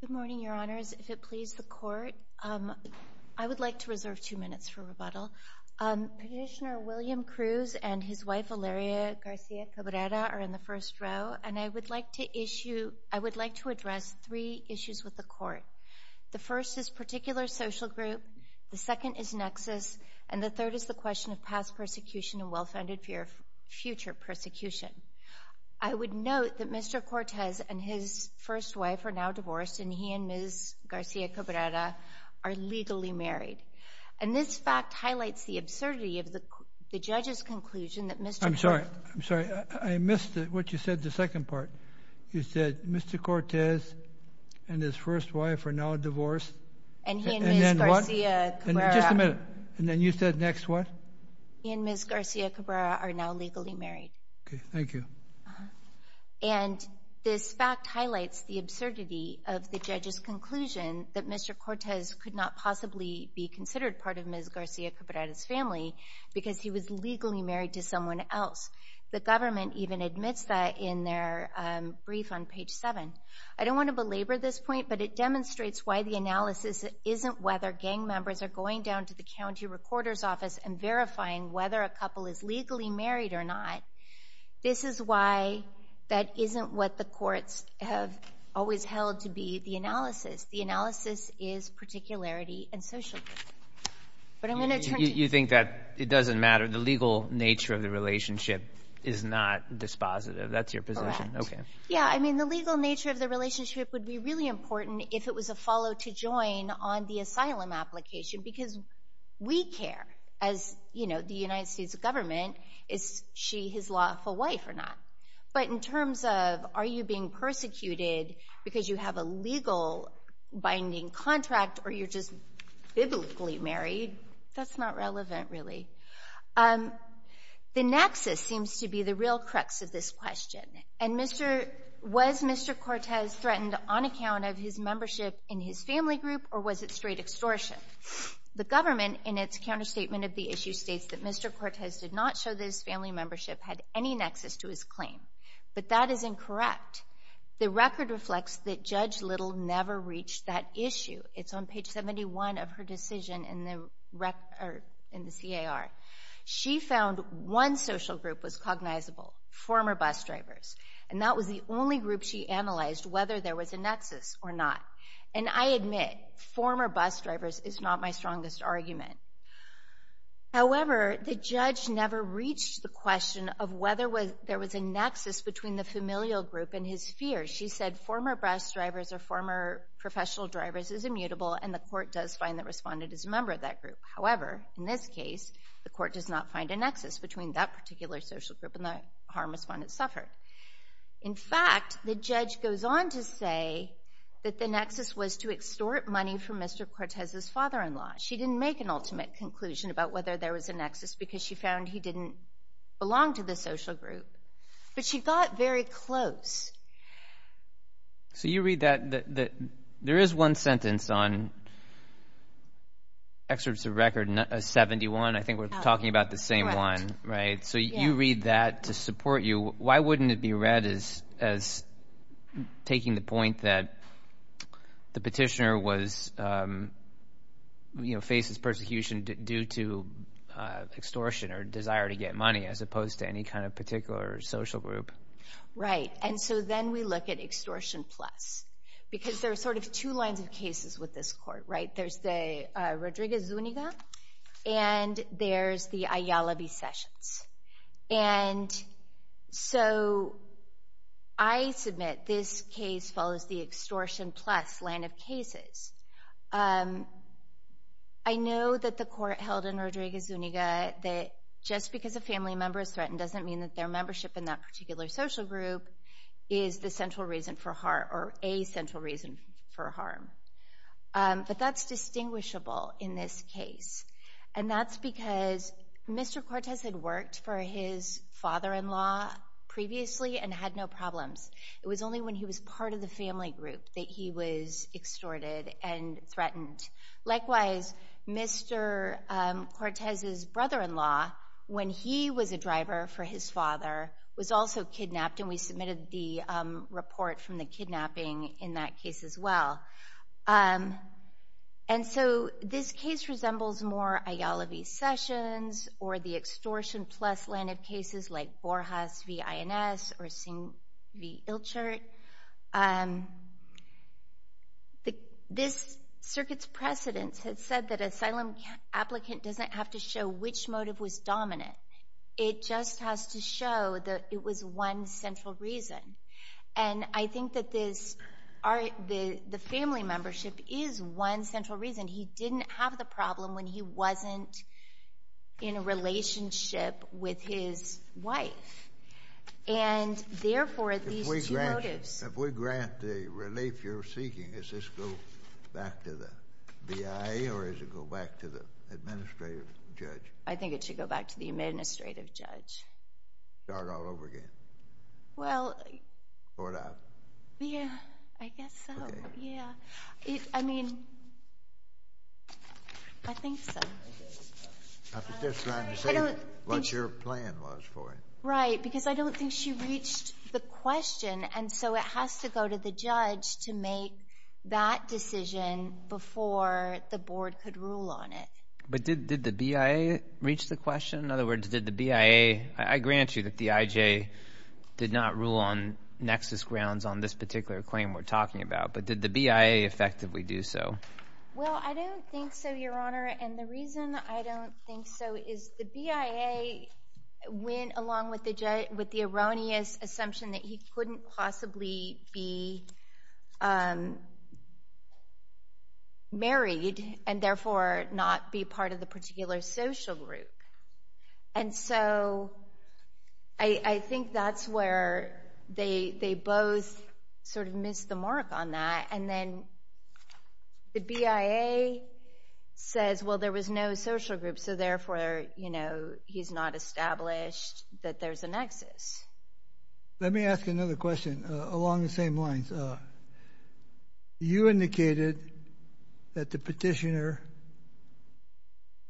Good morning, Your Honors. If it pleases the Court, I would like to reserve two minutes for rebuttal. Petitioner William Cruz and his wife, Valeria Garcia Cabrera, are in the first row, and I would like to address three issues with the Court. The first is particular social group, the second is nexus, and the third is the question of past persecution and well-founded future persecution. I would note that Mr. Cortez and his first wife are now divorced, and he and Ms. Garcia Cabrera are legally married. And this fact highlights the absurdity of the judge's conclusion that Mr. Cortez I'm sorry, I missed what you said, the second part. You said Mr. Cortez and his first wife are now divorced. And he and Ms. Garcia Cabrera Just a minute. And then you said next what? He and Ms. Garcia Cabrera are now legally married. Okay, thank you. And this fact highlights the absurdity of the judge's conclusion that Mr. Cortez could not possibly be considered part of Ms. Garcia Cabrera's family because he was legally married to someone else. The government even admits that in their brief on page 7. I don't want to belabor this point, but it demonstrates why the analysis isn't whether gang members are going down to the county recorder's office and verifying whether a couple is legally married or not. This is why that isn't what the courts have always held to be the analysis. The analysis is particularity and social justice. But I'm going to turn to you. You think that it doesn't matter. The legal nature of the relationship is not dispositive. That's your position? Correct. Okay. Yeah, I mean the legal nature of the relationship would be really important if it was a follow to join on the asylum application because we care as, you know, the United States government, is she his lawful wife or not. But in terms of are you being persecuted because you have a legal binding contract or you're just biblically married, that's not relevant really. The nexus seems to be the real crux of this question. And was Mr. Cortez threatened on account of his membership in his family group or was it straight extortion? The government, in its counterstatement of the issue, states that Mr. Cortez did not show that his family membership had any nexus to his claim. But that is incorrect. The record reflects that Judge Little never reached that issue. It's on page 71 of her decision in the CAR. She found one social group was cognizable, former bus drivers, and that was the only group she analyzed whether there was a nexus or not. And I admit, former bus drivers is not my strongest argument. However, the judge never reached the question of whether there was a nexus between the familial group and his fear. She said former bus drivers or former professional drivers is immutable and the court does find the respondent is a member of that group. However, in this case, the court does not find a nexus between that particular social group and the harm the respondent suffered. In fact, the judge goes on to say that the nexus was to extort money from Mr. Cortez's father-in-law. She didn't make an ultimate conclusion about whether there was a nexus because she found he didn't belong to the social group. But she got very close. So you read that. There is one sentence on Excerpts of Record 71. I think we're talking about the same one. So you read that to support you. Why wouldn't it be read as taking the point that the petitioner faces persecution due to extortion or desire to get money as opposed to any kind of particular social group? Right, and so then we look at extortion plus because there are sort of two lines of cases with this court, right? There's the Rodriguez-Zuniga and there's the Ayala v. Sessions. And so I submit this case follows the extortion plus line of cases. I know that the court held in Rodriguez-Zuniga that just because a family member is threatened doesn't mean that their membership in that particular social group is the central reason for harm or a central reason for harm. But that's distinguishable in this case. And that's because Mr. Cortez had worked for his father-in-law previously and had no problems. It was only when he was part of the family group that he was extorted and threatened. Likewise, Mr. Cortez's brother-in-law, when he was a driver for his father, was also kidnapped and we submitted the report from the kidnapping in that case as well. And so this case resembles more Ayala v. Sessions or the extortion plus line of cases like Borjas v. Ins or Singh v. Ilchert. This circuit's precedence had said that asylum applicant doesn't have to show which motive was dominant. It just has to show that it was one central reason. And I think that the family membership is one central reason. He didn't have the problem when he wasn't in a relationship with his wife. And therefore, these two motives... If we grant the relief you're seeking, does this go back to the BIA or does it go back to the administrative judge? I think it should go back to the administrative judge. Start all over again? Well... Throw it out? Yeah, I guess so, yeah. I mean, I think so. I'm just trying to say what your plan was for it. Right, because I don't think she reached the question and so it has to go to the judge to make that decision before the board could rule on it. But did the BIA reach the question? In other words, did the BIA... I grant you that the IJ did not rule on nexus grounds on this particular claim we're talking about, but did the BIA effectively do so? Well, I don't think so, Your Honor, and the reason I don't think so is the BIA went along with the erroneous assumption that he couldn't possibly be married and therefore not be part of the particular social group. And so I think that's where they both sort of missed the mark on that and then the BIA says, well, there was no social group, so therefore, you know, he's not established that there's a nexus. Let me ask another question along the same lines. You indicated that the petitioner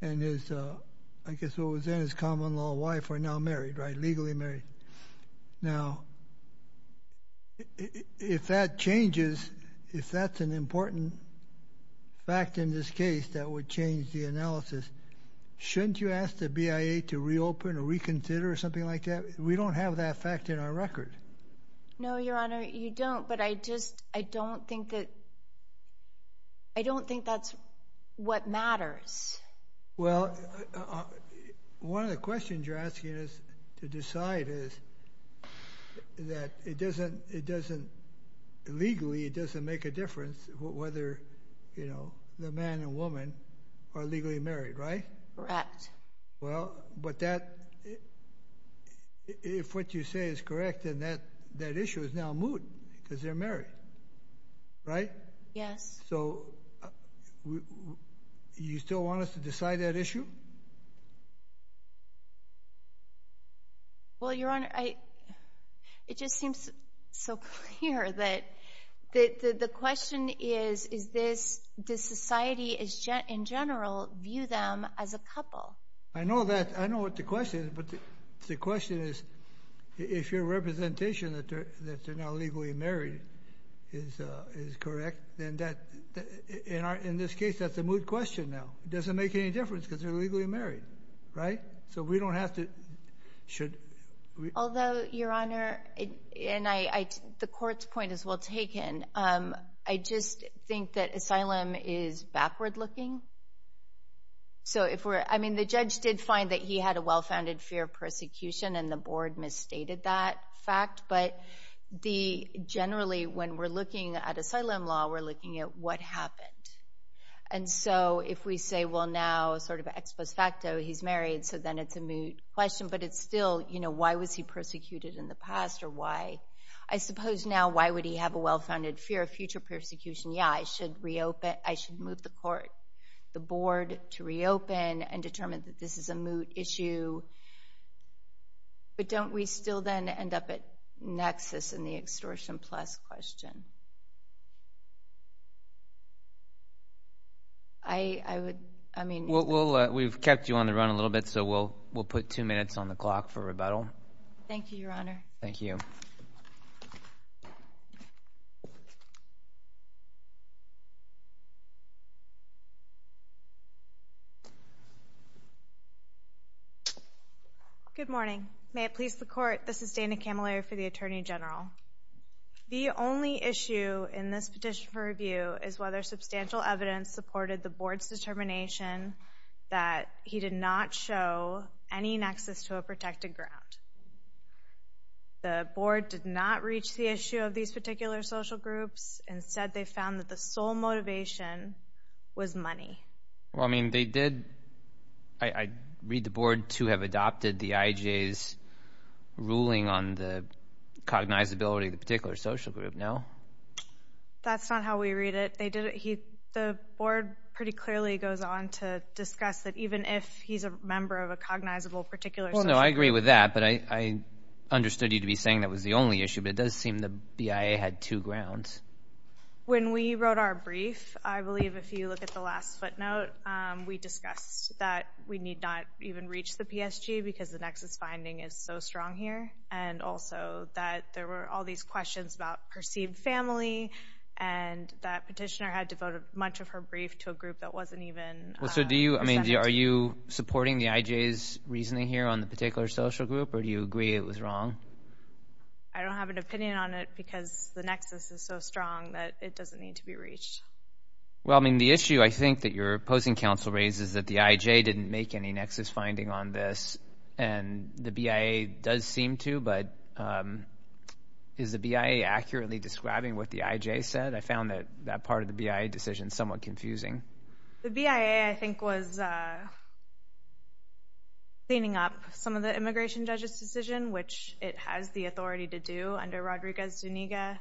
and his, I guess what was then his common-law wife, are now married, right, legally married. Now, if that changes, if that's an important fact in this case that would change the analysis, shouldn't you ask the BIA to reopen or reconsider or something like that? We don't have that fact in our record. No, Your Honor, you don't, but I just don't think that's what matters. Well, one of the questions you're asking us to decide is that it doesn't legally, it doesn't make a difference whether, you know, the man and woman are legally married, right? Correct. Well, but that, if what you say is correct, then that issue is now moot because they're married, right? Yes. So you still want us to decide that issue? Well, Your Honor, it just seems so clear that the question is, does society in general view them as a couple? I know that. I know what the question is, but the question is, if your representation that they're now legally married is correct, then in this case that's a moot question now. It doesn't make any difference because they're legally married, right? So we don't have to, should we? Although, Your Honor, and the Court's point is well taken, I just think that asylum is backward looking. So if we're, I mean, the judge did find that he had a well-founded fear of persecution, and the Board misstated that fact. But generally, when we're looking at asylum law, we're looking at what happened. And so if we say, well, now, sort of ex post facto, he's married, so then it's a moot question. But it's still, you know, why was he persecuted in the past or why? I suppose now why would he have a well-founded fear of future persecution? Yeah, I should reopen, I should move the Court, the Board to reopen and determine that this is a moot issue. But don't we still then end up at nexus in the extortion plus question? I would, I mean. We've kept you on the run a little bit, so we'll put two minutes on the clock for rebuttal. Thank you, Your Honor. Thank you. Good morning. May it please the Court, this is Dana Camilleri for the Attorney General. The only issue in this petition for review is whether substantial evidence supported the Board's determination that he did not show any nexus to a protected ground. The Board did not reach the issue of these particular social groups. Instead, they found that the sole motivation was money. Well, I mean, they did. I read the Board to have adopted the IJ's ruling on the cognizability of the particular social group. No? That's not how we read it. The Board pretty clearly goes on to discuss that even if he's a member of a cognizable particular social group. Well, no, I agree with that, but I understood you to be saying that was the only issue, but it does seem the BIA had two grounds. When we wrote our brief, I believe if you look at the last footnote, we discussed that we need not even reach the PSG because the nexus finding is so strong here and also that there were all these questions about perceived family and that petitioner had devoted much of her brief to a group that wasn't even 17. Well, so do you, I mean, are you supporting the IJ's reasoning here on the particular social group, or do you agree it was wrong? I don't have an opinion on it because the nexus is so strong that it doesn't need to be reached. Well, I mean, the issue I think that your opposing counsel raises is that the IJ didn't make any nexus finding on this, and the BIA does seem to, but is the BIA accurately describing what the IJ said? I found that part of the BIA decision somewhat confusing. The BIA, I think, was cleaning up some of the immigration judge's decision, which it has the authority to do under Rodriguez-Zuniga,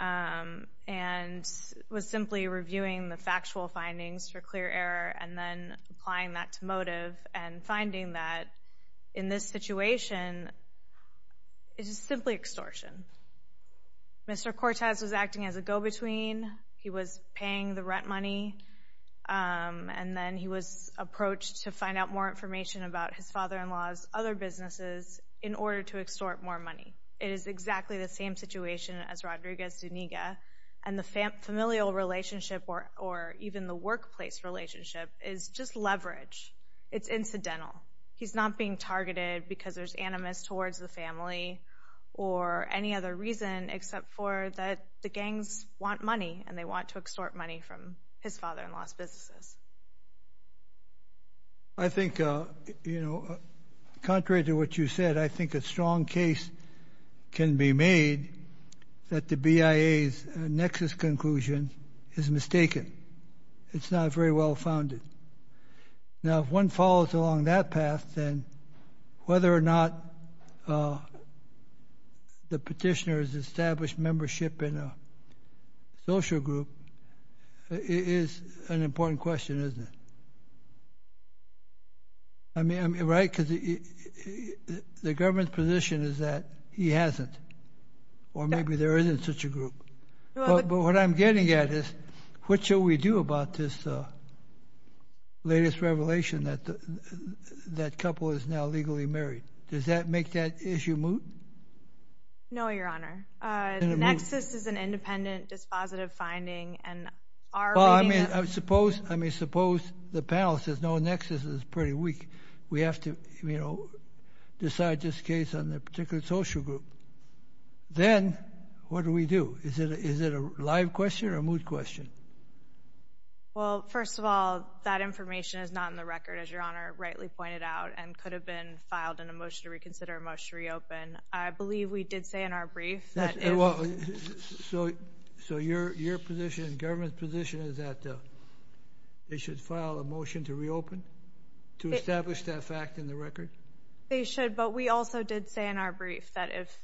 and was simply reviewing the factual findings for clear error and then applying that to motive and finding that in this situation it is simply extortion. Mr. Cortes was acting as a go-between. He was paying the rent money, and then he was approached to find out more information about his father-in-law's other businesses in order to extort more money. It is exactly the same situation as Rodriguez-Zuniga, and the familial relationship or even the workplace relationship is just leverage. It's incidental. He's not being targeted because there's animus towards the family or any other reason except for that the gangs want money, and they want to extort money from his father-in-law's businesses. I think, you know, contrary to what you said, I think a strong case can be made that the BIA's nexus conclusion is mistaken. It's not very well-founded. Now, if one follows along that path, then whether or not the petitioner has established membership in a social group is an important question, isn't it? I mean, right? Because the government's position is that he hasn't, or maybe there isn't such a group. But what I'm getting at is what shall we do about this latest revelation that that couple is now legally married? Does that make that issue moot? No, Your Honor. The nexus is an independent, dispositive finding, and our reading is— we have to, you know, decide this case on a particular social group. Then what do we do? Is it a live question or a moot question? Well, first of all, that information is not in the record, as Your Honor rightly pointed out, and could have been filed in a motion to reconsider, a motion to reopen. I believe we did say in our brief that if— So your position, the government's position, is that they should file a motion to reopen, to establish that fact in the record? They should, but we also did say in our brief that if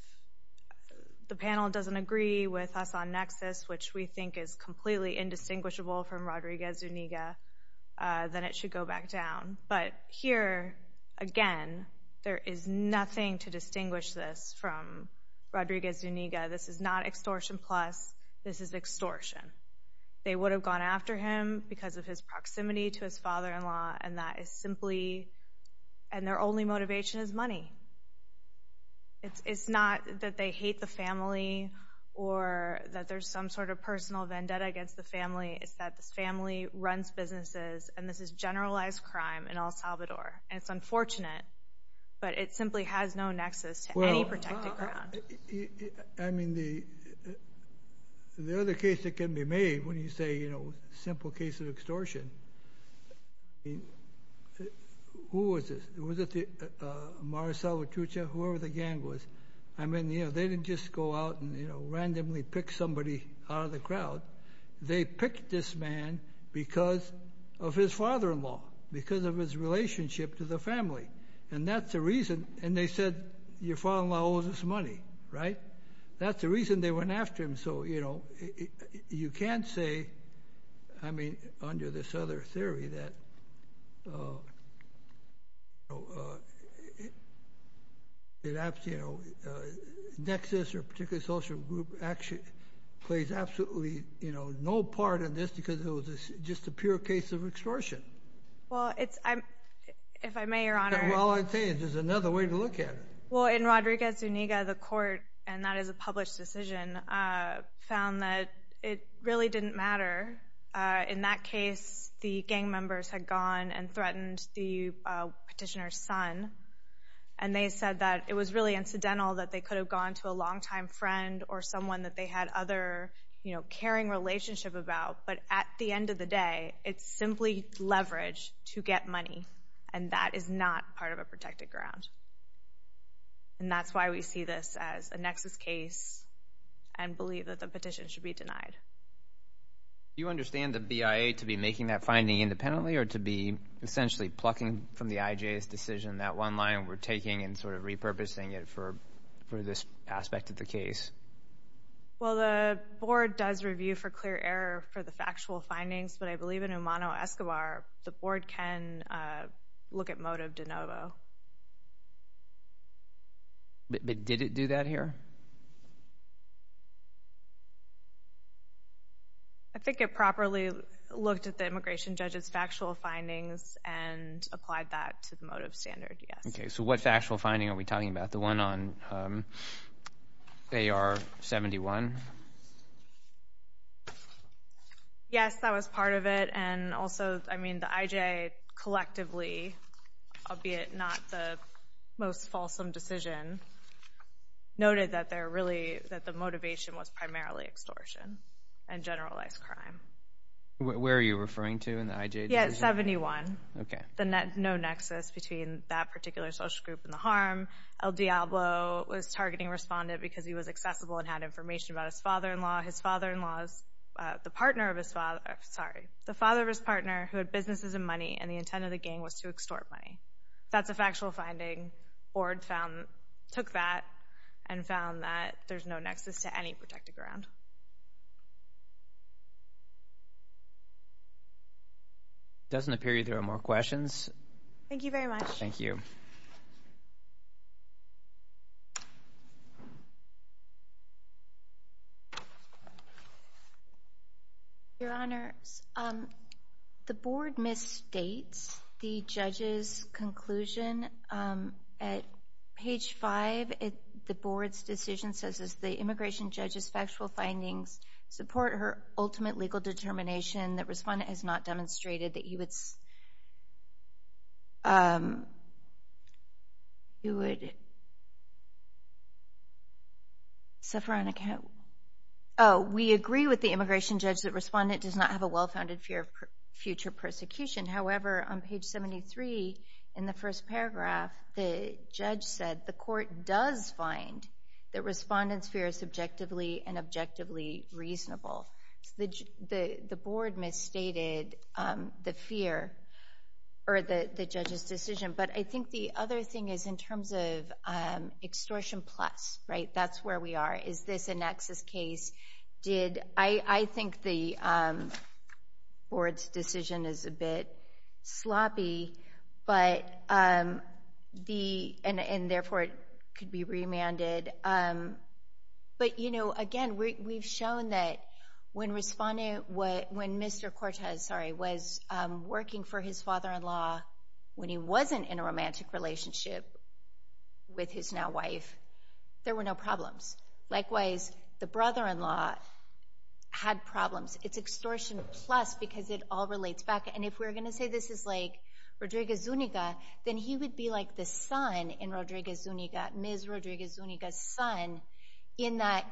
the panel doesn't agree with us on nexus, which we think is completely indistinguishable from Rodriguez-Zuniga, then it should go back down. But here, again, there is nothing to distinguish this from Rodriguez-Zuniga. This is not extortion plus. This is extortion. They would have gone after him because of his proximity to his father-in-law, and that is simply—and their only motivation is money. It's not that they hate the family or that there's some sort of personal vendetta against the family. It's that this family runs businesses, and this is generalized crime in El Salvador. And it's unfortunate, but it simply has no nexus to any protected ground. I mean, the other case that can be made when you say, you know, simple case of extortion, who was this? Was it Amar Salvatrucha, whoever the gang was? I mean, you know, they didn't just go out and, you know, randomly pick somebody out of the crowd. They picked this man because of his father-in-law, because of his relationship to the family, and that's the reason—and they said, your father-in-law owes us money, right? That's the reason they went after him. So, you know, you can't say, I mean, under this other theory that, you know, nexus or particular social group actually plays absolutely, you know, no part in this because it was just a pure case of extortion. Well, it's—if I may, Your Honor— Well, I'll tell you, there's another way to look at it. Well, in Rodriguez-Zuniga, the court, and that is a published decision, found that it really didn't matter. In that case, the gang members had gone and threatened the petitioner's son, and they said that it was really incidental that they could have gone to a longtime friend or someone that they had other, you know, caring relationship about. But at the end of the day, it's simply leverage to get money, and that is not part of a protected ground. And that's why we see this as a nexus case and believe that the petition should be denied. Do you understand the BIA to be making that finding independently or to be essentially plucking from the IJ's decision, that one line we're taking and sort of repurposing it for this aspect of the case? Well, the board does review for clear error for the factual findings, but I believe in Umano-Escobar, the board can look at motive de novo. But did it do that here? I think it properly looked at the immigration judge's factual findings and applied that to the motive standard, yes. Okay, so what factual finding are we talking about? The one on AR-71? Yes, that was part of it, and also, I mean, the IJ collectively, albeit not the most fulsome decision, noted that the motivation was primarily extortion and generalized crime. Where are you referring to in the IJ decision? Yeah, 71. Okay. No nexus between that particular social group and the harm. El Diablo was targeting a respondent because he was accessible and had information about his father-in-law. His father-in-law is the father of his partner who had businesses and money, and the intent of the gang was to extort money. That's a factual finding. Board took that and found that there's no nexus to any protected ground. Thank you. It doesn't appear there are more questions. Thank you very much. Thank you. Your Honors, the Board misstates the judge's conclusion. At page 5, the Board's decision says, the immigration judge's factual findings support her ultimate legal determination that respondent has not demonstrated that he would suffer on account. Oh, we agree with the immigration judge that respondent does not have a well-founded fear of future persecution. However, on page 73 in the first paragraph, the judge said, the court does find that respondent's fear is subjectively and objectively reasonable. The Board misstated the fear or the judge's decision, but I think the other thing is in terms of extortion plus, right? That's where we are. Is this a nexus case? I think the Board's decision is a bit sloppy and, therefore, it could be remanded. But, again, we've shown that when Mr. Cortez was working for his father-in-law when he wasn't in a romantic relationship with his now-wife, there were no problems. Likewise, the brother-in-law had problems. It's extortion plus because it all relates back. And if we're going to say this is like Rodriguez Zuniga, then he would be like the son in Rodriguez Zuniga, Ms. Rodriguez Zuniga's son, in that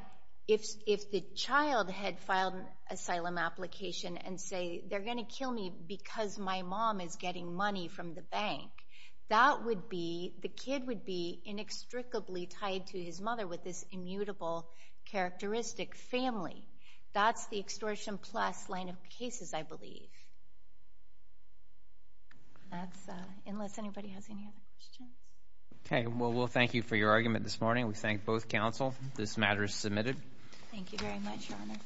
if the child had filed an asylum application and say, they're going to kill me because my mom is getting money from the bank, that would be, the kid would be inextricably tied to his mother with this immutable characteristic family. That's the extortion plus line of cases, I believe. Unless anybody has any other questions. Okay. Well, we'll thank you for your argument this morning. We thank both counsel. This matter is submitted. Thank you very much, Your Honor.